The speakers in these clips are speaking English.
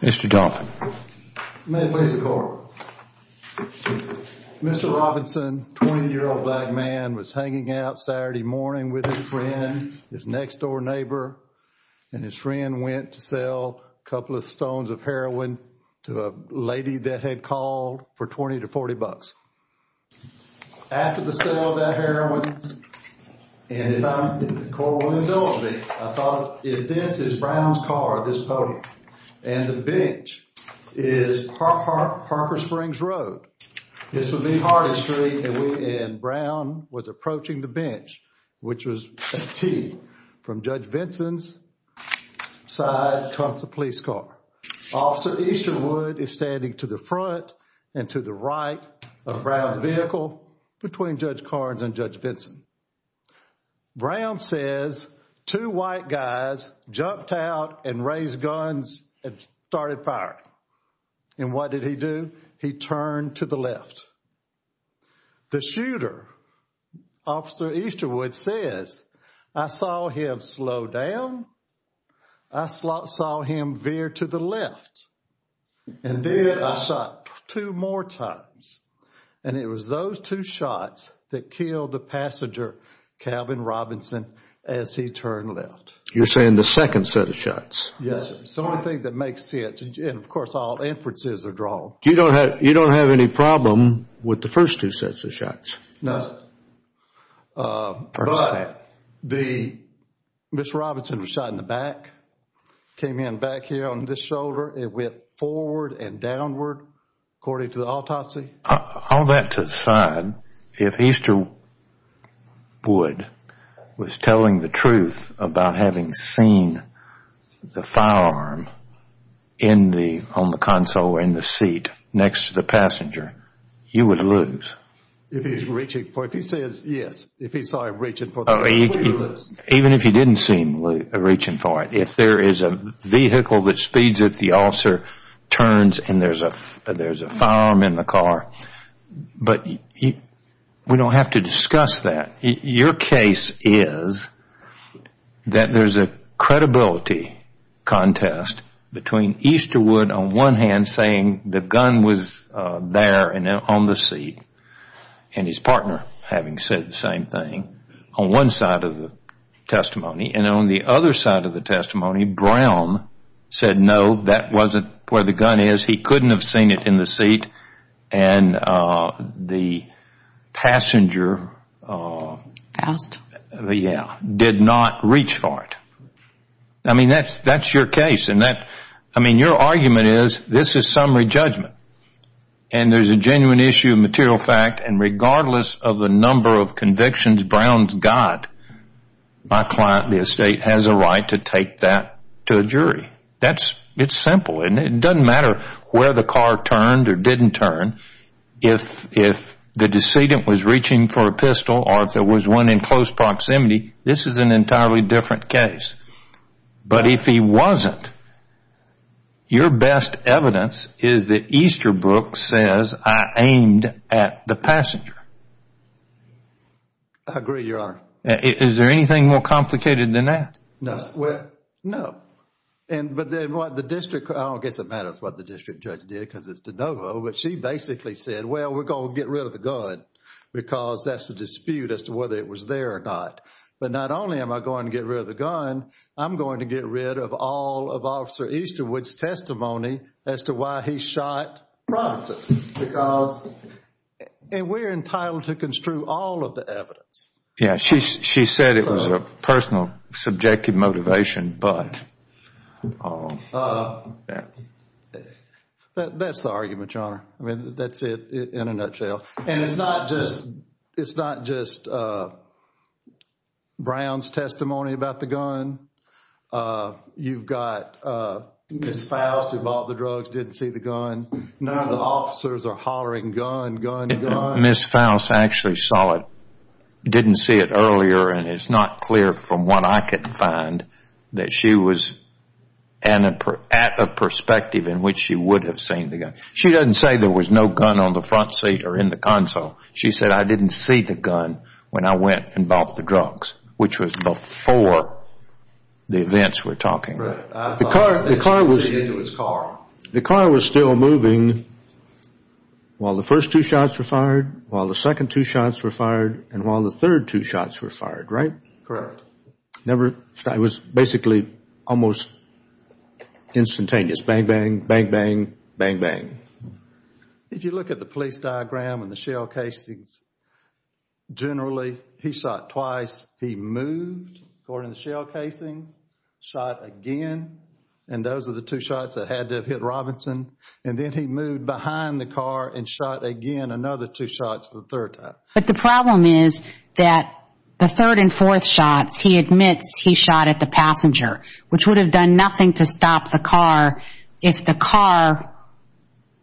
Mr. Donovan, may I please have the floor? Mr. Robinson, 20-year-old black man, was hanging out Saturday morning with his friend, his next-door neighbor, and his friend went to sell a couple of stones of heroin to a lady that had called for 20 to 40 bucks. After the sale of that heroin, and if I'm, the court will indulge me, I thought, if this is Brown's car, this podium, and the bench is Parker Springs Road, this would be Hardin Street, and we, and Brown was approaching the bench, which was a T, from Judge Vinson's side, trumps a police car. Officer Easterwood is standing to the front and to the right of Brown's vehicle between Judge Carnes and Judge Vinson. Brown says, two white guys jumped out and raised guns and started firing, and what did he do? He turned to the left. The shooter, Officer Easterwood, says, I saw him slow down. I saw him veer to the left, and then I shot two more times, and it was those two shots that killed the passenger, Calvin Robinson, as he turned left. You're saying the second set of shots? Yes. The only thing that makes sense, and of course all inferences are drawn. You don't have any problem with the first two sets of shots? No. First set. But the, Mr. Robinson was shot in the back, came in back here on this shoulder, it went forward and downward according to the autopsy. All that to the side, if Easterwood was telling the truth about having seen the firearm on the console or in the seat next to the passenger, he would lose. If he's reaching for it, if he says yes, if he saw him reaching for it, he would lose. Even if he didn't seem to be reaching for it, if there is a vehicle that speeds it, the officer turns and there's a firearm in the car, but we don't have to discuss that. Your case is that there's a credibility contest between Easterwood on one hand saying the gun was there and on the seat, and his partner having said the same thing on one side of the testimony, and on the other side of the testimony, Brown said no, that wasn't where the gun is, he couldn't have seen it in the seat, and the passenger did not reach for it. I mean, that's your case, and that, I mean, your argument is this is summary judgment, and there's a genuine issue of material fact, and regardless of the number of convictions Brown's got, my client, the estate, has a right to take that to a jury. It's simple, and it doesn't matter where the car turned or didn't turn, if the decedent was reaching for a pistol or if there was one in close proximity, this is an entirely different case. But if he wasn't, your best evidence is that Easterbrook says I aimed at the passenger. I agree, Your Honor. Is there anything more complicated than that? No. No. But then what the district, I don't guess it matters what the district judge did because it's de novo, but she basically said, well, we're going to get rid of the gun because that's the dispute as to whether it was there or not. But not only am I going to get rid of the gun, I'm going to get rid of all of Officer Easterwood's testimony as to why he shot Robinson because, and we're entitled to construe all of the evidence. Yeah, she said it was a personal subjective motivation, but... That's the argument, Your Honor. I mean, that's it in a nutshell. And it's not just Brown's testimony about the gun. You've got Ms. Faust who bought the drugs, didn't see the gun. None of the officers are hollering gun, gun, gun. But Ms. Faust actually saw it, didn't see it earlier, and it's not clear from what I could find that she was at a perspective in which she would have seen the gun. She doesn't say there was no gun on the front seat or in the console. She said, I didn't see the gun when I went and bought the drugs, which was before the events we're talking about. Right. I thought he said he didn't see it in his car. The car was still moving while the first two shots were fired, while the second two shots were fired, and while the third two shots were fired, right? Correct. Never, it was basically almost instantaneous, bang, bang, bang, bang, bang, bang. If you look at the police diagram and the shell casings, generally he shot twice, he hit Robinson, and then he moved behind the car and shot again another two shots for the third time. But the problem is that the third and fourth shots, he admits he shot at the passenger, which would have done nothing to stop the car if the car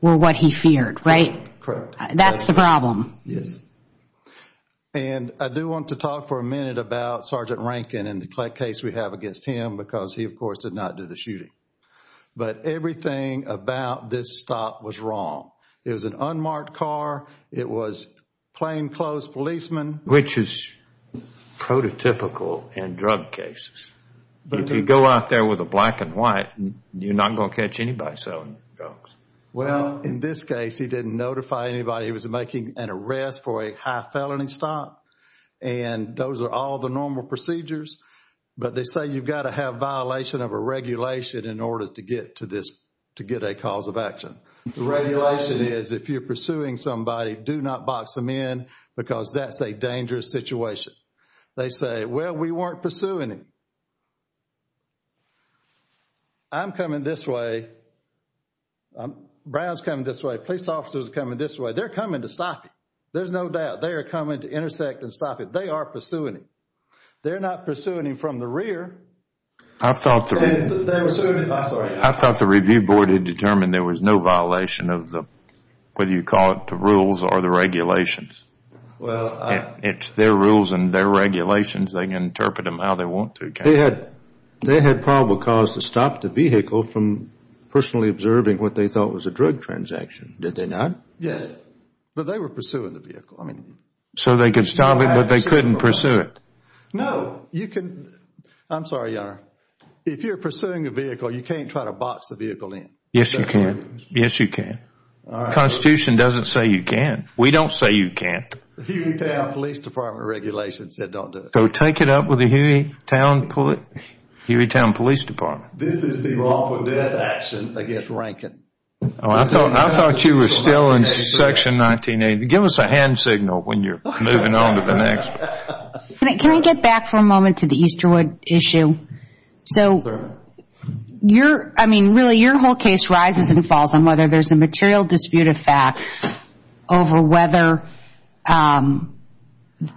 were what he feared, right? Correct. That's the problem. Yes. And I do want to talk for a minute about Sergeant Rankin and the case we have against him because he of course did not do the shooting. But everything about this stop was wrong. It was an unmarked car. It was plainclothes policemen. Which is prototypical in drug cases. If you go out there with a black and white, you're not going to catch anybody selling drugs. Well, in this case, he didn't notify anybody. He was making an arrest for a high felony stop, and those are all the normal procedures. But they say you've got to have violation of a regulation in order to get to this, to get a cause of action. The regulation is if you're pursuing somebody, do not box them in because that's a dangerous situation. They say, well, we weren't pursuing him. I'm coming this way, Brown's coming this way, police officers are coming this way. They're coming to stop him. There's no doubt. They are coming to intersect and stop him. They are pursuing him. They're not pursuing him from the rear. I thought the review board had determined there was no violation of the, whether you call it the rules or the regulations. It's their rules and their regulations, they can interpret them how they want to. They had probable cause to stop the vehicle from personally observing what they thought was a drug transaction. Did they not? Yes. But they were pursuing the vehicle. So they could stop it, but they couldn't pursue it? No. You can, I'm sorry, Your Honor, if you're pursuing a vehicle, you can't try to box the vehicle in. Yes, you can. Yes, you can. The Constitution doesn't say you can. We don't say you can't. The Hueytown Police Department regulation said don't do it. So take it up with the Hueytown Police Department. This is the lawful death action against Rankin. I thought you were still in Section 1980. Give us a hand signal when you're moving on to the next one. Can I get back for a moment to the Easterwood issue? So your, I mean, really your whole case rises and falls on whether there's a material disputed fact over whether,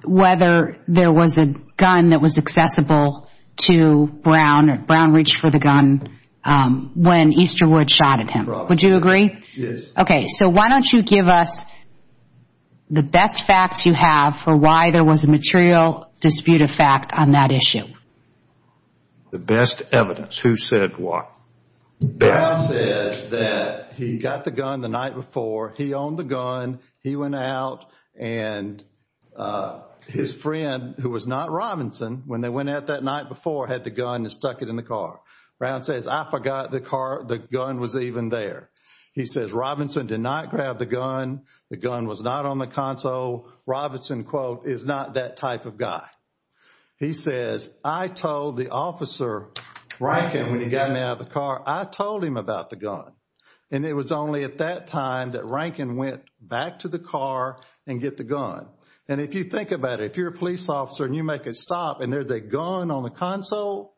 whether there was a gun that was accessible to Brown or Brown reached for the gun when Easterwood shot at him. Would you agree? Yes. Okay. So why don't you give us the best facts you have for why there was a material disputed fact on that issue? The best evidence. Who said what? Brown said that he got the gun the night before, he owned the gun, he went out and his friend who was not Robinson, when they went out that night before, had the gun and stuck it in the car. Brown says, I forgot the car, the gun was even there. He says, Robinson did not grab the gun, the gun was not on the console, Robinson, quote, is not that type of guy. He says, I told the officer Rankin when he got me out of the car, I told him about the gun and it was only at that time that Rankin went back to the car and get the gun. And if you think about it, if you're a police officer and you make a stop and there's a gun on the console,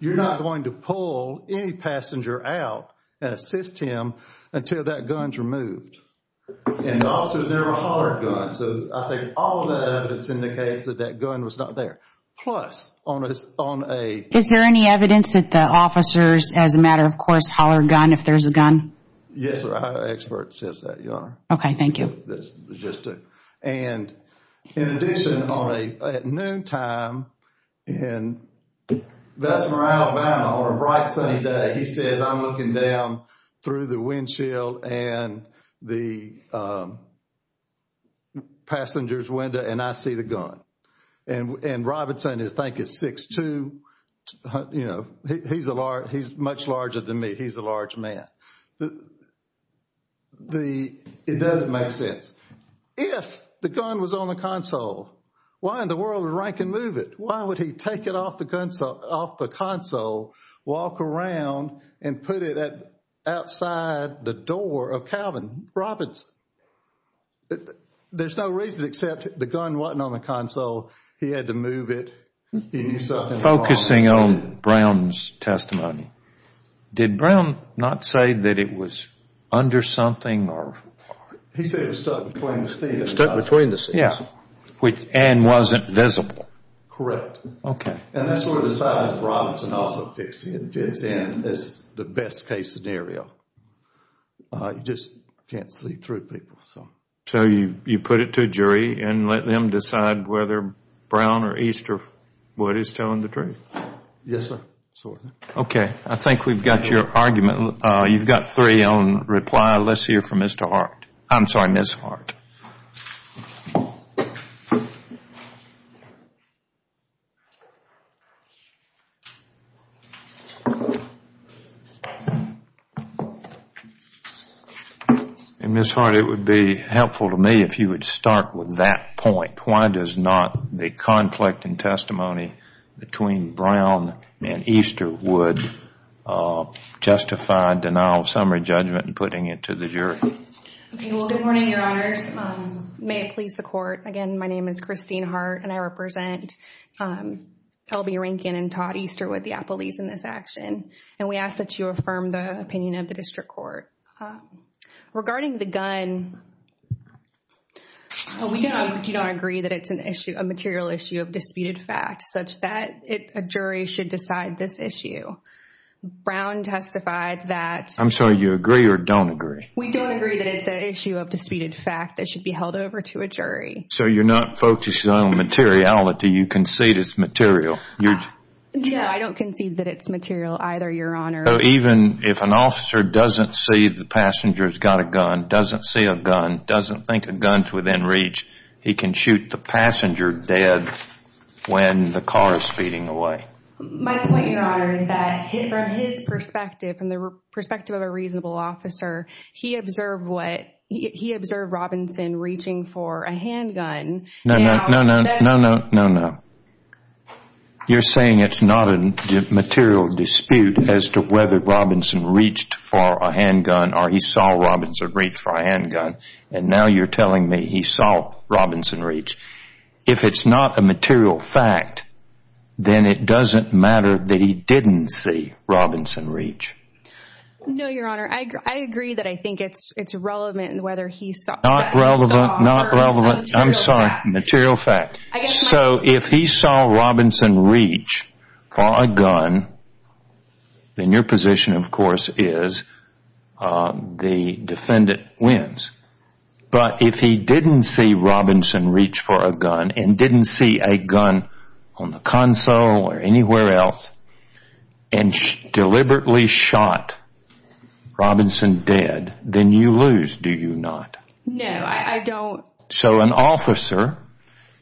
you're not going to pull any passenger out and assist him until that gun's removed. And also there were hollered guns, so I think all of that evidence indicates that that gun was not there. Plus, on a... Is there any evidence that the officers, as a matter of course, hollered gun if there's a gun? Yes, our expert says that, Your Honor. Okay, thank you. That's just it. And in addition, at noontime, in Vest Morale, Alabama, on a bright sunny day, he says, I'm looking down through the windshield and the passenger's window and I see the gun. And Robinson, I think, is 6'2", you know, he's much larger than me. He's a large man. It doesn't make sense. If the gun was on the console, why in the world would Rankin move it? Why would he take it off the console, walk around and put it outside the door of Calvin Robinson? There's no reason except the gun wasn't on the console. He knew something was wrong. Focusing on Brown's testimony, did Brown not say that it was under something or... He said it was stuck between the seats. Stuck between the seats. Yeah. And wasn't visible. Correct. Okay. And that's where the size of Robinson also fits in as the best case scenario. You just can't see through people. So you put it to a jury and let them decide whether Brown or East or Wood is telling the truth. Yes, sir. Okay. I think we've got your argument. You've got three on reply. Let's hear from Ms. Hart. Ms. Hart, it would be helpful to me if you would start with that point. Why does not the conflict in testimony between Brown and East or Wood justify denial of summary judgment and putting it to the jury? Okay. I'm going to start with Ms. Hart. May it please the court. Again, my name is Christine Hart and I represent L.B. Rinkin and Todd Easterwood, the appellees in this action. And we ask that you affirm the opinion of the district court. Regarding the gun, we don't agree that it's a material issue of disputed facts such that a jury should decide this issue. Brown testified that... I'm sorry, you agree or don't agree? We don't agree that it's an issue of disputed fact that should be held over to a jury. So you're not focused on materiality, you concede it's material. Yeah, I don't concede that it's material either, Your Honor. Even if an officer doesn't see the passenger has got a gun, doesn't see a gun, doesn't think a gun's within reach, he can shoot the passenger dead when the car is speeding away. My point, Your Honor, is that from his perspective, from the perspective of a reasonable officer, he observed what, he observed Robinson reaching for a handgun. No, no, no, no, no, no, no, no. You're saying it's not a material dispute as to whether Robinson reached for a handgun or he saw Robinson reach for a handgun. And now you're telling me he saw Robinson reach. If it's not a material fact, then it doesn't matter that he didn't see Robinson reach. No, Your Honor, I agree that I think it's relevant whether he saw or not. Not relevant, not relevant, I'm sorry, material fact. So if he saw Robinson reach for a gun, then your position, of course, is the defendant wins. But if he didn't see Robinson reach for a gun and didn't see a gun on the console or deliberately shot Robinson dead, then you lose, do you not? No, I don't. So an officer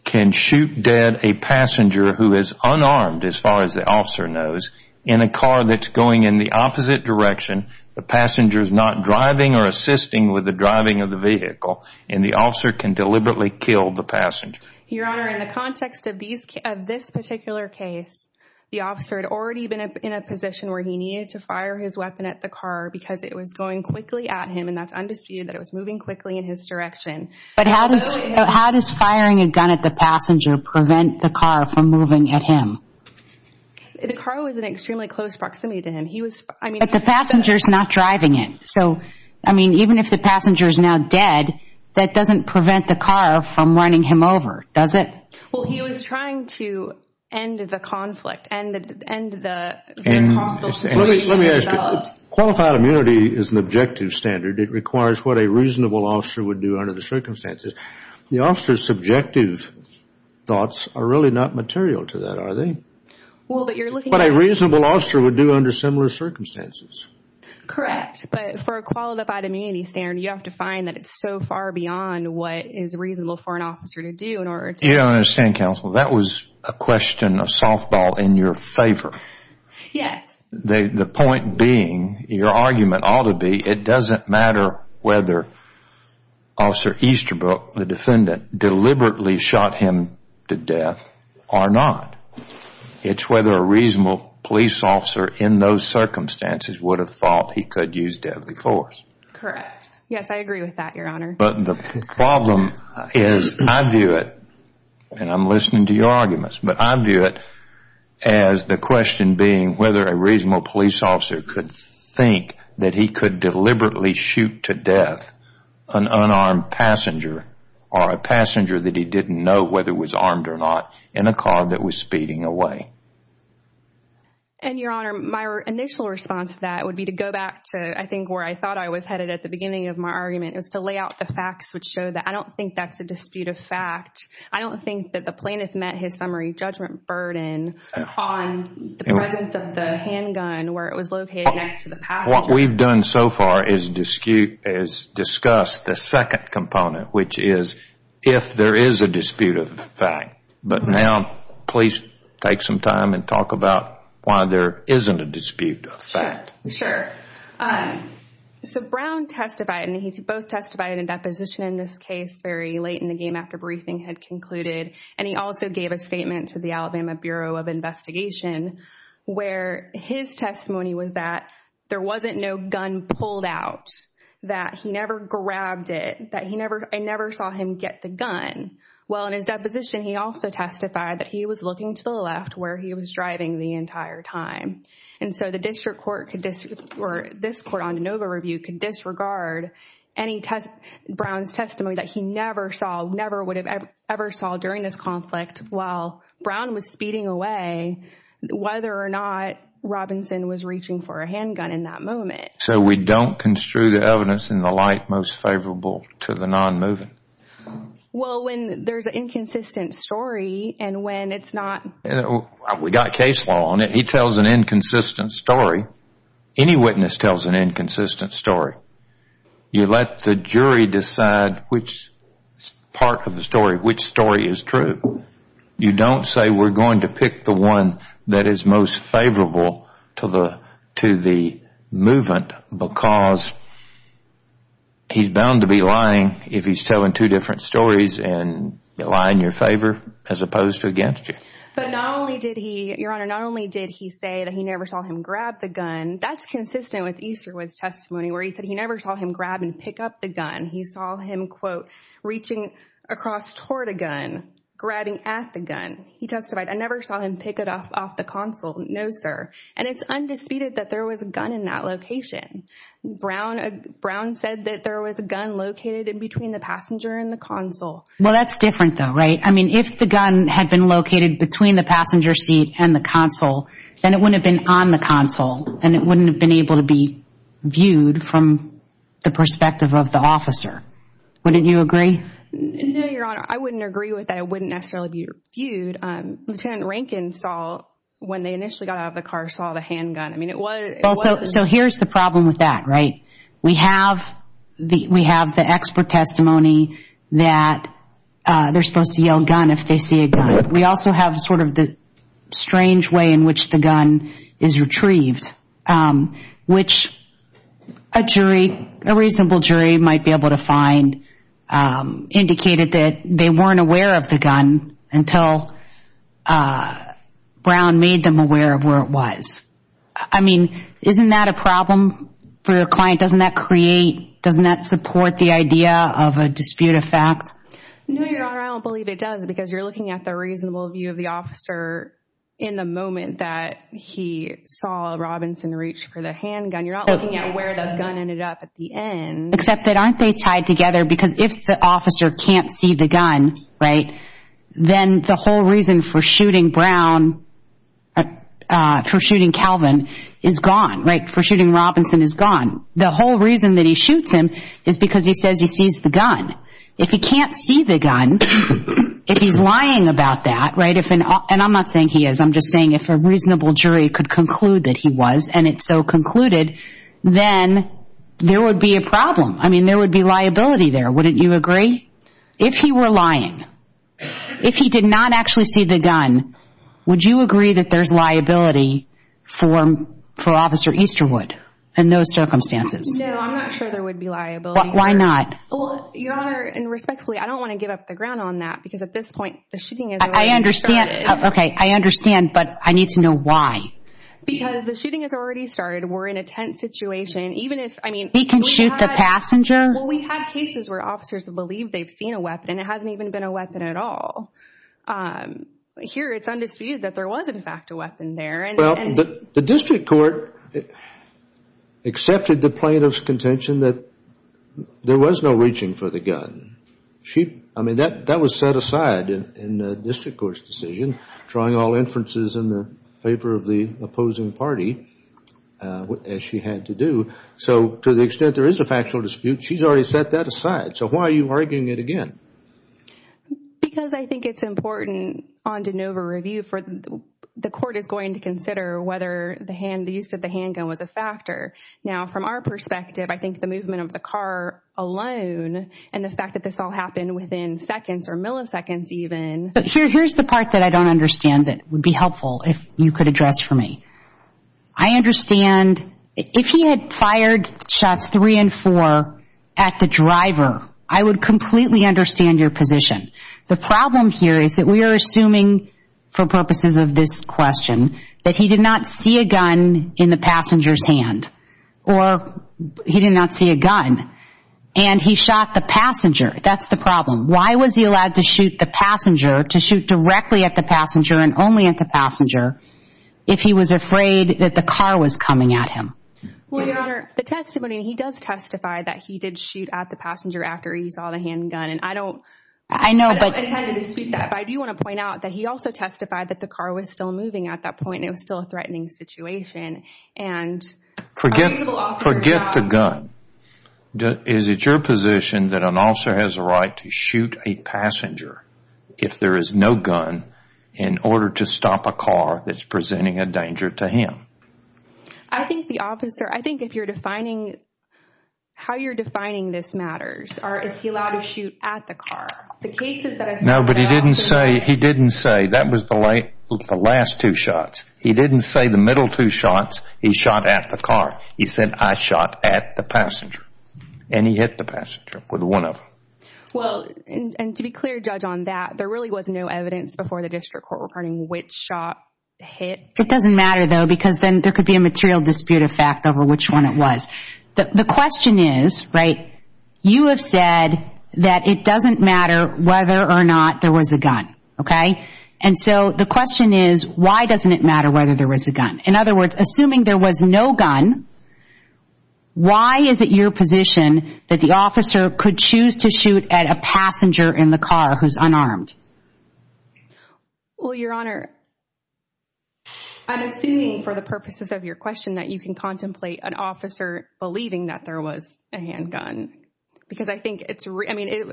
can shoot dead a passenger who is unarmed, as far as the officer knows, in a car that's going in the opposite direction. The passenger's not driving or assisting with the driving of the vehicle and the officer can deliberately kill the passenger. Your Honor, in the context of this particular case, the officer had already been in a position where he needed to fire his weapon at the car because it was going quickly at him and that's undisputed that it was moving quickly in his direction. But how does firing a gun at the passenger prevent the car from moving at him? The car was in extremely close proximity to him. But the passenger's not driving it. So, I mean, even if the passenger's now dead, that doesn't prevent the car from running him over, does it? Well, he was trying to end the conflict, end the hostile situation. Let me ask you. Qualified immunity is an objective standard. It requires what a reasonable officer would do under the circumstances. The officer's subjective thoughts are really not material to that, are they? Well, but you're looking at... What a reasonable officer would do under similar circumstances. Correct. But for a qualified immunity standard, you have to find that it's so far beyond what is reasonable for an officer to do in order to... You don't understand, counsel. That was a question of softball in your favor. Yes. The point being, your argument ought to be, it doesn't matter whether Officer Easterbrook, the defendant, deliberately shot him to death or not. It's whether a reasonable police officer, in those circumstances, would have thought he could use deadly force. Correct. Yes, I agree with that, Your Honor. But the problem is, I view it, and I'm listening to your arguments, but I view it as the question being whether a reasonable police officer could think that he could deliberately shoot to death an unarmed passenger or a passenger that he didn't know whether was armed or not in a car that was speeding away. And, Your Honor, my initial response to that would be to go back to, I think, where I thought I was headed at the beginning of my argument. It was to lay out the facts which show that I don't think that's a dispute of fact. I don't think that the plaintiff met his summary judgment burden on the presence of the handgun where it was located next to the passenger. What we've done so far is discuss the second component, which is if there is a dispute of fact. But now, please take some time and talk about why there isn't a dispute of fact. Sure. So Brown testified, and he both testified in a deposition in this case very late in the game after briefing had concluded. And he also gave a statement to the Alabama Bureau of Investigation where his testimony was that there wasn't no gun pulled out, that he never grabbed it, that I never saw him get the gun. Well, in his deposition, he also testified that he was looking to the left where he was driving the entire time. And so the district court or this court on de novo review could disregard any Brown's testimony that he never saw, never would have ever saw during this conflict while Brown was speeding away, whether or not Robinson was reaching for a handgun in that moment. So we don't construe the evidence in the light most favorable to the non-moving? Well, when there's an inconsistent story and when it's not... We got case law on it. He tells an inconsistent story. Any witness tells an inconsistent story. You let the jury decide which part of the story, which story is true. You don't say we're going to pick the one that is most favorable to the movement because he's bound to be lying if he's telling two different stories and lying in your favor as opposed to against you. But not only did he, Your Honor, not only did he say that he never saw him grab the gun, that's consistent with Easterwood's testimony where he said he never saw him grab and pick up the gun. He saw him, quote, reaching across toward a gun, grabbing at the gun. He testified, I never saw him pick it up off the console. No, sir. And it's undisputed that there was a gun in that location. Brown said that there was a gun located in between the passenger and the console. Well, that's different though, right? I mean, if the gun had been located between the passenger seat and the console, then it wouldn't have been on the console and it wouldn't have been able to be viewed from the perspective of the officer. Wouldn't you agree? No, Your Honor, I wouldn't agree with that. It wouldn't necessarily be viewed. Lieutenant Rankin saw, when they initially got out of the car, saw the handgun. So here's the problem with that, right? We have the expert testimony that they're supposed to yell gun if they see a gun. We also have sort of the strange way in which the gun is retrieved, which a jury, a reasonable jury might be able to find, indicated that they weren't aware of the gun until Brown made them aware of where it was. I mean, isn't that a problem for the client? Doesn't that create, doesn't that support the idea of a dispute of fact? No, Your Honor, I don't believe it does because you're looking at the reasonable view of the officer in the moment that he saw Robinson reach for the handgun. You're not looking at where the gun ended up at the end. Except that aren't they tied together because if the officer can't see the gun, right, then the whole reason for shooting Brown, for shooting Calvin, is gone, right? For shooting Robinson is gone. The whole reason that he shoots him is because he says he sees the gun. If he can't see the gun, if he's lying about that, right, and I'm not saying he is, I'm just saying if a reasonable jury could conclude that he was and it's so concluded, then there would be a problem. I mean, there would be liability there, wouldn't you agree? If he were lying, if he did not actually see the gun, would you agree that there's liability for Officer Easterwood in those circumstances? No, I'm not sure there would be liability. Why not? Well, Your Honor, and respectfully, I don't want to give up the ground on that because at this point, the shooting has already started. I understand. Okay, I understand, but I need to know why. Because the shooting has already started. We're in a tense situation. We can shoot the passenger? Well, we've had cases where officers have believed they've seen a weapon and it hasn't even been a weapon at all. Here, it's undisputed that there was, in fact, a weapon there. Well, the district court accepted the plaintiff's contention that there was no reaching for the gun. I mean, that was set aside in the district court's decision, drawing all inferences in favor of the opposing party, as she had to do. So to the extent there is a factual dispute, she's already set that aside. So why are you arguing it again? Because I think it's important on de novo review for the court is going to consider whether the use of the handgun was a factor. Now, from our perspective, I think the movement of the car alone and the fact that this all happened within seconds or milliseconds even. Here's the part that I don't understand that would be helpful if you could address for me. I understand if he had fired shots three and four at the driver, I would completely understand your position. The problem here is that we are assuming, for purposes of this question, that he did not see a gun in the passenger's hand, or he did not see a gun, and he shot the passenger. That's the problem. Why was he allowed to shoot the passenger, to shoot directly at the passenger and only at the passenger, if he was afraid that the car was coming at him? Well, Your Honor, the testimony, he does testify that he did shoot at the passenger after he saw the handgun, and I don't... I know, but... I don't intend to dispute that, but I do want to point out that he also testified that the car was still moving at that point, and it was still a threatening situation, and... Forget the gun. Is it your position that an officer has a right to shoot a passenger if there is no gun in order to stop a car that's presenting a danger to him? I think the officer, I think if you're defining, how you're defining this matters, or is he allowed to shoot at the car? The cases that I've heard about... No, but he didn't say, he didn't say, that was the last two shots. He didn't say the middle two shots, he shot at the car. He said, I shot at the passenger, and he hit the passenger with one of them. Well, and to be clear, Judge, on that, there really was no evidence before the district court regarding which shot hit... It doesn't matter, though, because then there could be a material dispute effect over which one it was. The question is, right, you have said that it doesn't matter whether or not there was a gun, okay? And so the question is, why doesn't it matter whether there was a gun? In other words, assuming there was no gun, why is it your position that the officer could choose to shoot at a passenger in the car who's unarmed? Well, Your Honor, I'm assuming for the purposes of your question that you can contemplate an officer believing that there was a handgun, because I think it's... I mean,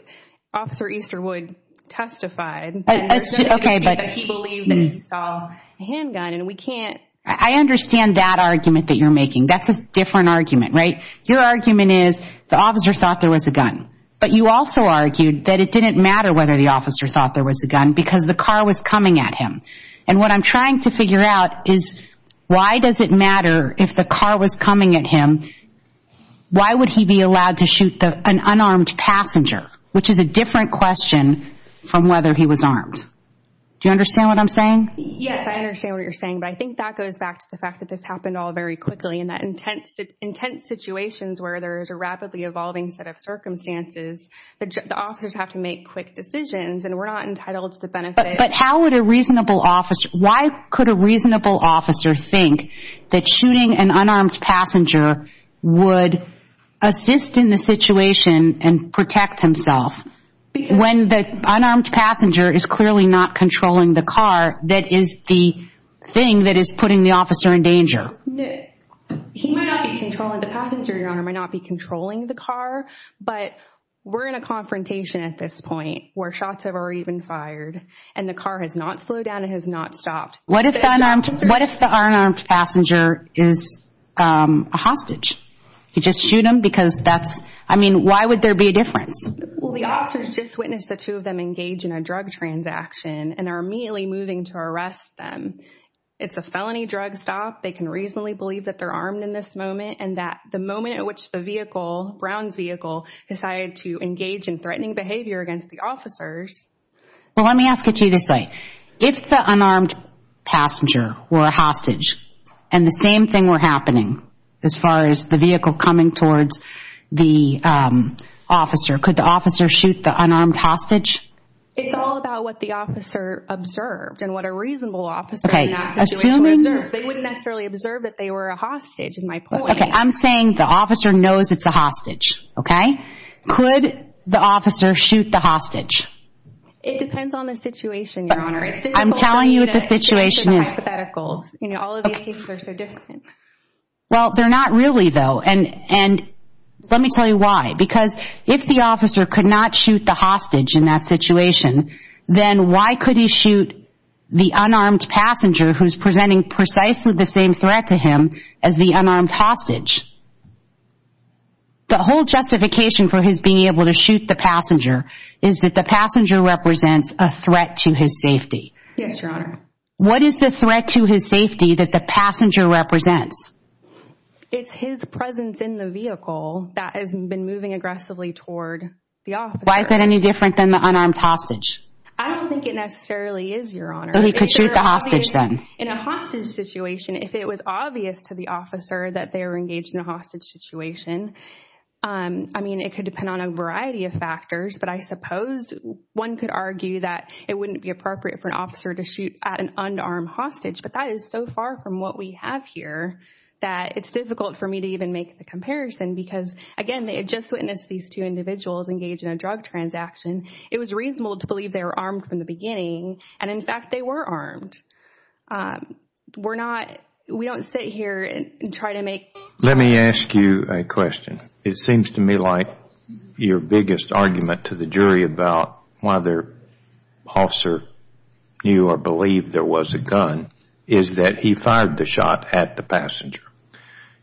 Officer Easterwood testified... Okay, but... ...that he believed that he saw a handgun, and we can't... I understand that argument that you're making. That's a different argument, right? Your argument is the officer thought there was a gun, but you also argued that it didn't matter whether the officer thought there was a gun because the car was coming at him. And what I'm trying to figure out is, why does it matter if the car was coming at him? Why would he be allowed to shoot an unarmed passenger? Which is a different question from whether he was armed. Do you understand what I'm saying? Yes, I understand what you're saying, but I think that goes back to the fact that this happened all very quickly and that intense situations where there is a rapidly evolving set of circumstances, the officers have to make quick decisions, and we're not entitled to the benefit. But how would a reasonable officer... Why could a reasonable officer think that shooting an unarmed passenger would assist in the situation and protect himself when the unarmed passenger is clearly not controlling the car that is the thing that is putting the officer in danger? He might not be controlling the passenger, Your Honor, might not be controlling the car, but we're in a confrontation at this point where shots are even fired and the car has not slowed down and has not stopped. What if the unarmed passenger is a hostage? You just shoot him because that's... I mean, why would there be a difference? Well, the officers just witnessed the two of them engage in a drug transaction and are immediately moving to arrest them. It's a felony drug stop. They can reasonably believe that they're armed in this moment and that the moment at which the vehicle, Brown's vehicle, decided to engage in threatening behavior against the officers... Well, let me ask it to you this way. If the unarmed passenger were a hostage and the same thing were happening as far as the vehicle coming towards the officer, could the officer shoot the unarmed hostage? It's all about what the officer observed and what a reasonable officer in that situation observed. They wouldn't necessarily observe that they were a hostage is my point. Okay, I'm saying the officer knows it's a hostage, okay? Could the officer shoot the hostage? It depends on the situation, Your Honor. I'm telling you what the situation is. All of these cases are so different. Well, they're not really, though, and let me tell you why. Because if the officer could not shoot the hostage in that situation, then why could he shoot the unarmed passenger who's presenting precisely the same threat to him as the unarmed hostage? The whole justification for his being able to shoot the passenger is that the passenger represents a threat to his safety. Yes, Your Honor. What is the threat to his safety that the passenger represents? It's his presence in the vehicle that has been moving aggressively toward the officer. Why is that any different than the unarmed hostage? I don't think it necessarily is, Your Honor. So he could shoot the hostage then? In a hostage situation, if it was obvious to the officer that they were engaged in a hostage situation, I mean, it could depend on a variety of factors, but I suppose one could argue that it wouldn't be appropriate for an officer to shoot at an unarmed hostage, but that is so far from what we have here that it's difficult for me to even make the comparison because, again, they had just witnessed these two individuals engage in a drug transaction. It was reasonable to believe they were armed from the beginning, and, in fact, they were armed. We don't sit here and try to make... Let me ask you a question. It seems to me like your biggest argument to the jury about why the officer knew or believed there was a gun is that he fired the shot at the passenger.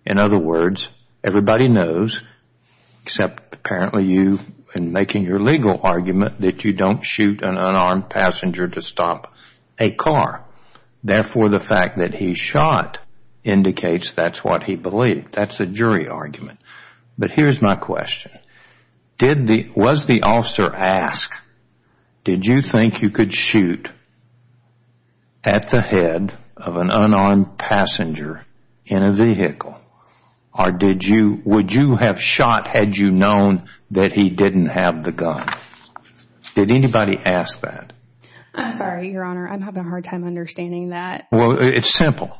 In other words, everybody knows, except apparently you in making your legal argument that you don't shoot an unarmed passenger to stop a car. Therefore, the fact that he shot indicates that's what he believed. That's a jury argument. But here's my question. Was the officer asked, did you think you could shoot at the head of an unarmed passenger in a vehicle or would you have shot had you known that he didn't have the gun? Did anybody ask that? I'm sorry, Your Honor. I'm having a hard time understanding that. Well, it's simple.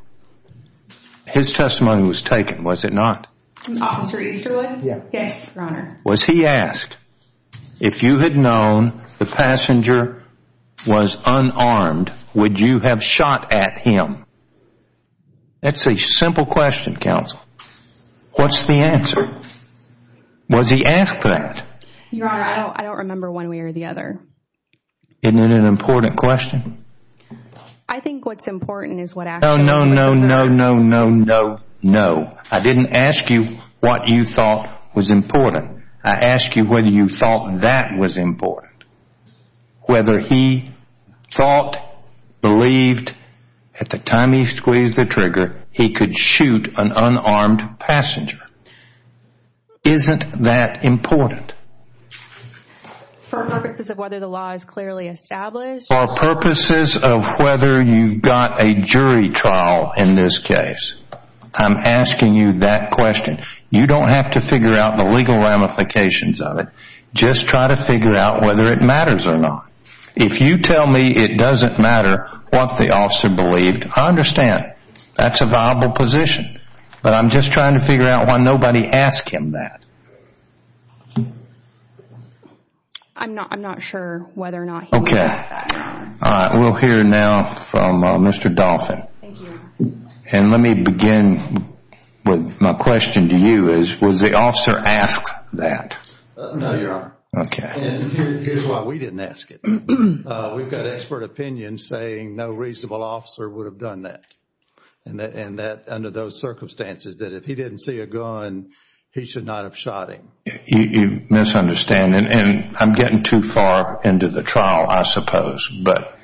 His testimony was taken, was it not? Officer Easterwood? Yes, Your Honor. Was he asked, if you had known the passenger was unarmed, would you have shot at him? That's a simple question, counsel. What's the answer? Was he asked for that? Your Honor, I don't remember one way or the other. Isn't it an important question? I think what's important is what actually... No, no, no, no, no, no, no, no. I didn't ask you what you thought was important. I asked you whether you thought that was important, whether he thought, believed, at the time he squeezed the trigger, he could shoot an unarmed passenger. Isn't that important? For purposes of whether the law is clearly established. For purposes of whether you've got a jury trial in this case. I'm asking you that question. You don't have to figure out the legal ramifications of it. Just try to figure out whether it matters or not. If you tell me it doesn't matter what the officer believed, I understand. That's a viable position. But I'm just trying to figure out why nobody asked him that. I'm not sure whether or not he asked that. Okay. We'll hear now from Mr. Dolphin. And let me begin with my question to you. Was the officer asked that? No, Your Honor. Okay. And here's why we didn't ask it. We've got expert opinion saying no reasonable officer would have done that. And that under those circumstances that if he didn't see a gun, he should not have shot him. You misunderstand. And I'm getting too far into the trial, I suppose. But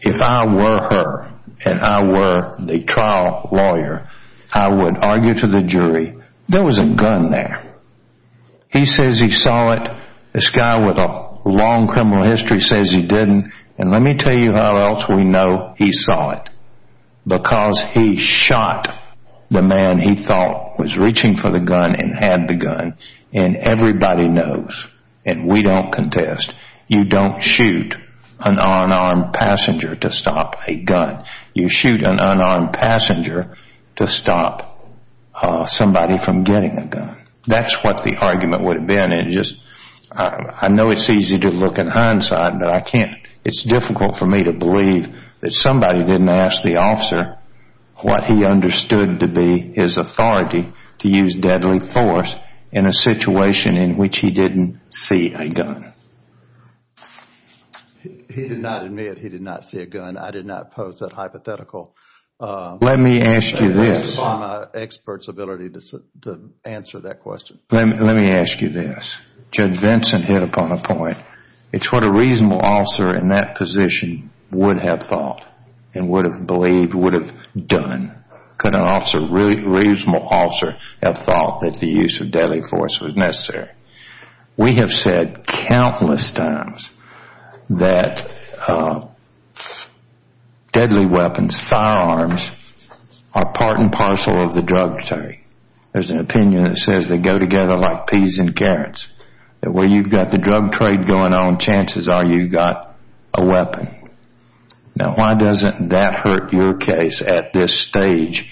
if I were her and I were the trial lawyer, I would argue to the jury, there was a gun there. He says he saw it. This guy with a long criminal history says he didn't. And let me tell you how else we know he saw it. Because he shot the man he thought was reaching for the gun and had the gun. And everybody knows, and we don't contest, you don't shoot an unarmed passenger to stop a gun. You shoot an unarmed passenger to stop somebody from getting a gun. That's what the argument would have been. I know it's easy to look in hindsight, but it's difficult for me to believe that somebody didn't ask the officer what he understood to be his authority to use deadly force in a situation in which he didn't see a gun. He did not admit he did not see a gun. And I did not pose that hypothetical. Let me ask you this. It's in my expert's ability to answer that question. Let me ask you this. Judge Vinson hit upon a point. It's what a reasonable officer in that position would have thought and would have believed, would have done. Could a reasonable officer have thought that the use of deadly force was necessary? We have said countless times that deadly weapons, firearms, are part and parcel of the drug trade. There's an opinion that says they go together like peas and carrots, that where you've got the drug trade going on, chances are you've got a weapon. Now, why doesn't that hurt your case at this stage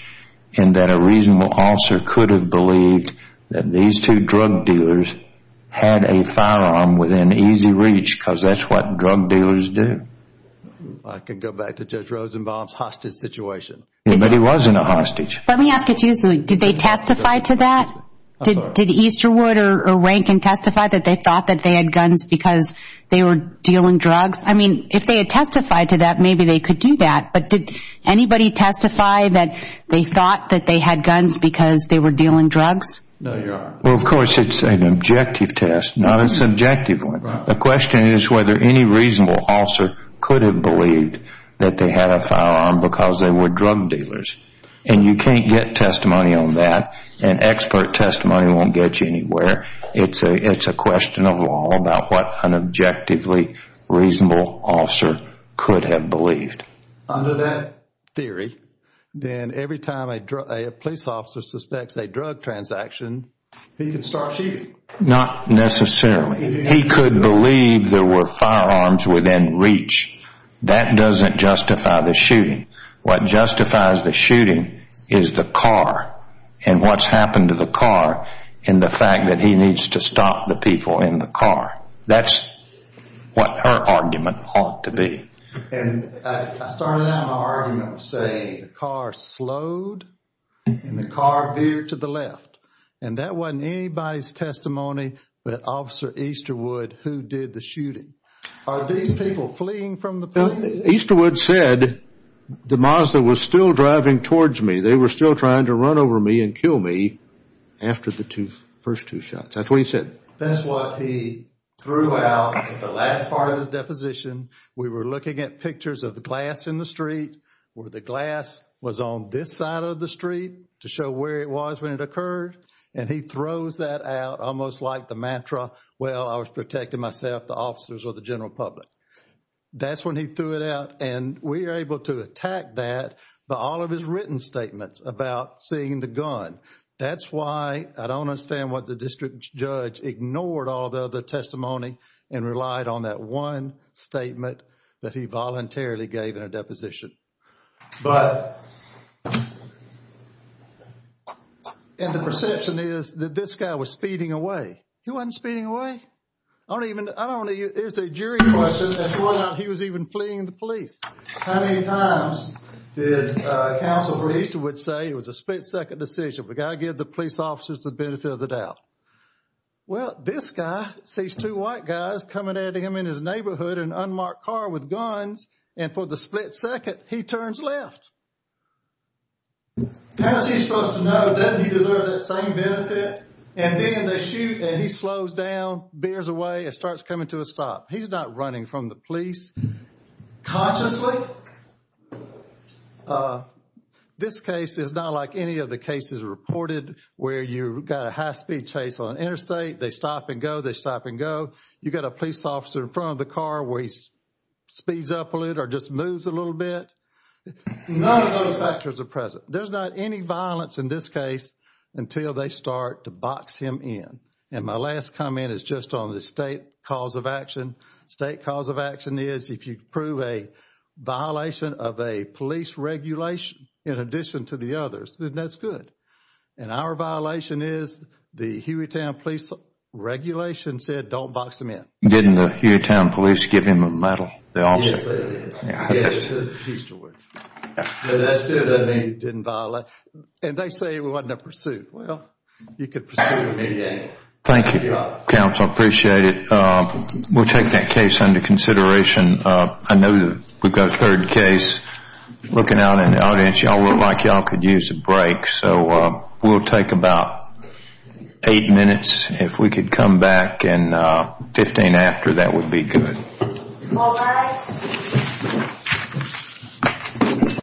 in that a reasonable officer could have believed that these two drug dealers had a firearm within easy reach because that's what drug dealers do? I can go back to Judge Rosenbaum's hostage situation. But he wasn't a hostage. Let me ask you something. Did they testify to that? Did Easterwood or Rankin testify that they thought that they had guns because they were dealing drugs? I mean, if they had testified to that, maybe they could do that. But did anybody testify that they thought that they had guns because they were dealing drugs? No, Your Honor. Well, of course, it's an objective test, not a subjective one. The question is whether any reasonable officer could have believed that they had a firearm because they were drug dealers. And you can't get testimony on that, and expert testimony won't get you anywhere. It's a question of law about what an objectively reasonable officer could have believed. Under that theory, then every time a police officer suspects a drug transaction, he can start shooting. Not necessarily. He could believe there were firearms within reach. That doesn't justify the shooting. What justifies the shooting is the car and what's happened to the car and the fact that he needs to stop the people in the car. That's what her argument ought to be. And I started out my argument with saying the car slowed and the car veered to the left, and that wasn't anybody's testimony but Officer Easterwood who did the shooting. Are these people fleeing from the police? Easterwood said the Mazda was still driving towards me. They were still trying to run over me and kill me after the first two shots. That's what he said. That's what he threw out in the last part of his deposition. We were looking at pictures of the glass in the street where the glass was on this side of the street to show where it was when it occurred, and he throws that out almost like the mantra, well, I was protecting myself, the officers, or the general public. That's when he threw it out, and we were able to attack that, but all of his written statements about seeing the gun. That's why I don't understand why the district judge ignored all the other testimony and relied on that one statement that he voluntarily gave in a deposition. But, and the perception is that this guy was speeding away. He wasn't speeding away. I don't even, there's a jury question as to whether or not he was even fleeing the police. How many times did Counsel for Easterwood say it was a split-second decision we've got to give the police officers the benefit of the doubt? Well, this guy sees two white guys coming at him in his neighborhood, an unmarked car with guns, and for the split second, he turns left. How is he supposed to know? Doesn't he deserve that same benefit? And then they shoot, and he slows down, veers away, and starts coming to a stop. He's not running from the police consciously. Counsel? This case is not like any of the cases reported where you've got a high-speed chase on an interstate. They stop and go, they stop and go. You've got a police officer in front of the car where he speeds up a little or just moves a little bit. None of those factors are present. There's not any violence in this case until they start to box him in. And my last comment is just on the state cause of action. State cause of action is if you prove a violation of a police regulation in addition to the others, then that's good. And our violation is the Hueytown police regulation said don't box them in. Didn't the Hueytown police give him a medal? Yes, they did. Yes, they did. And they said it wasn't a pursuit. Well, you could pursue it from any angle. Thank you, Counsel. I appreciate it. We'll take that case under consideration. I know that we've got a third case. Looking out in the audience, y'all look like y'all could use a break. So we'll take about eight minutes. If we could come back in 15 after, that would be good. All rise.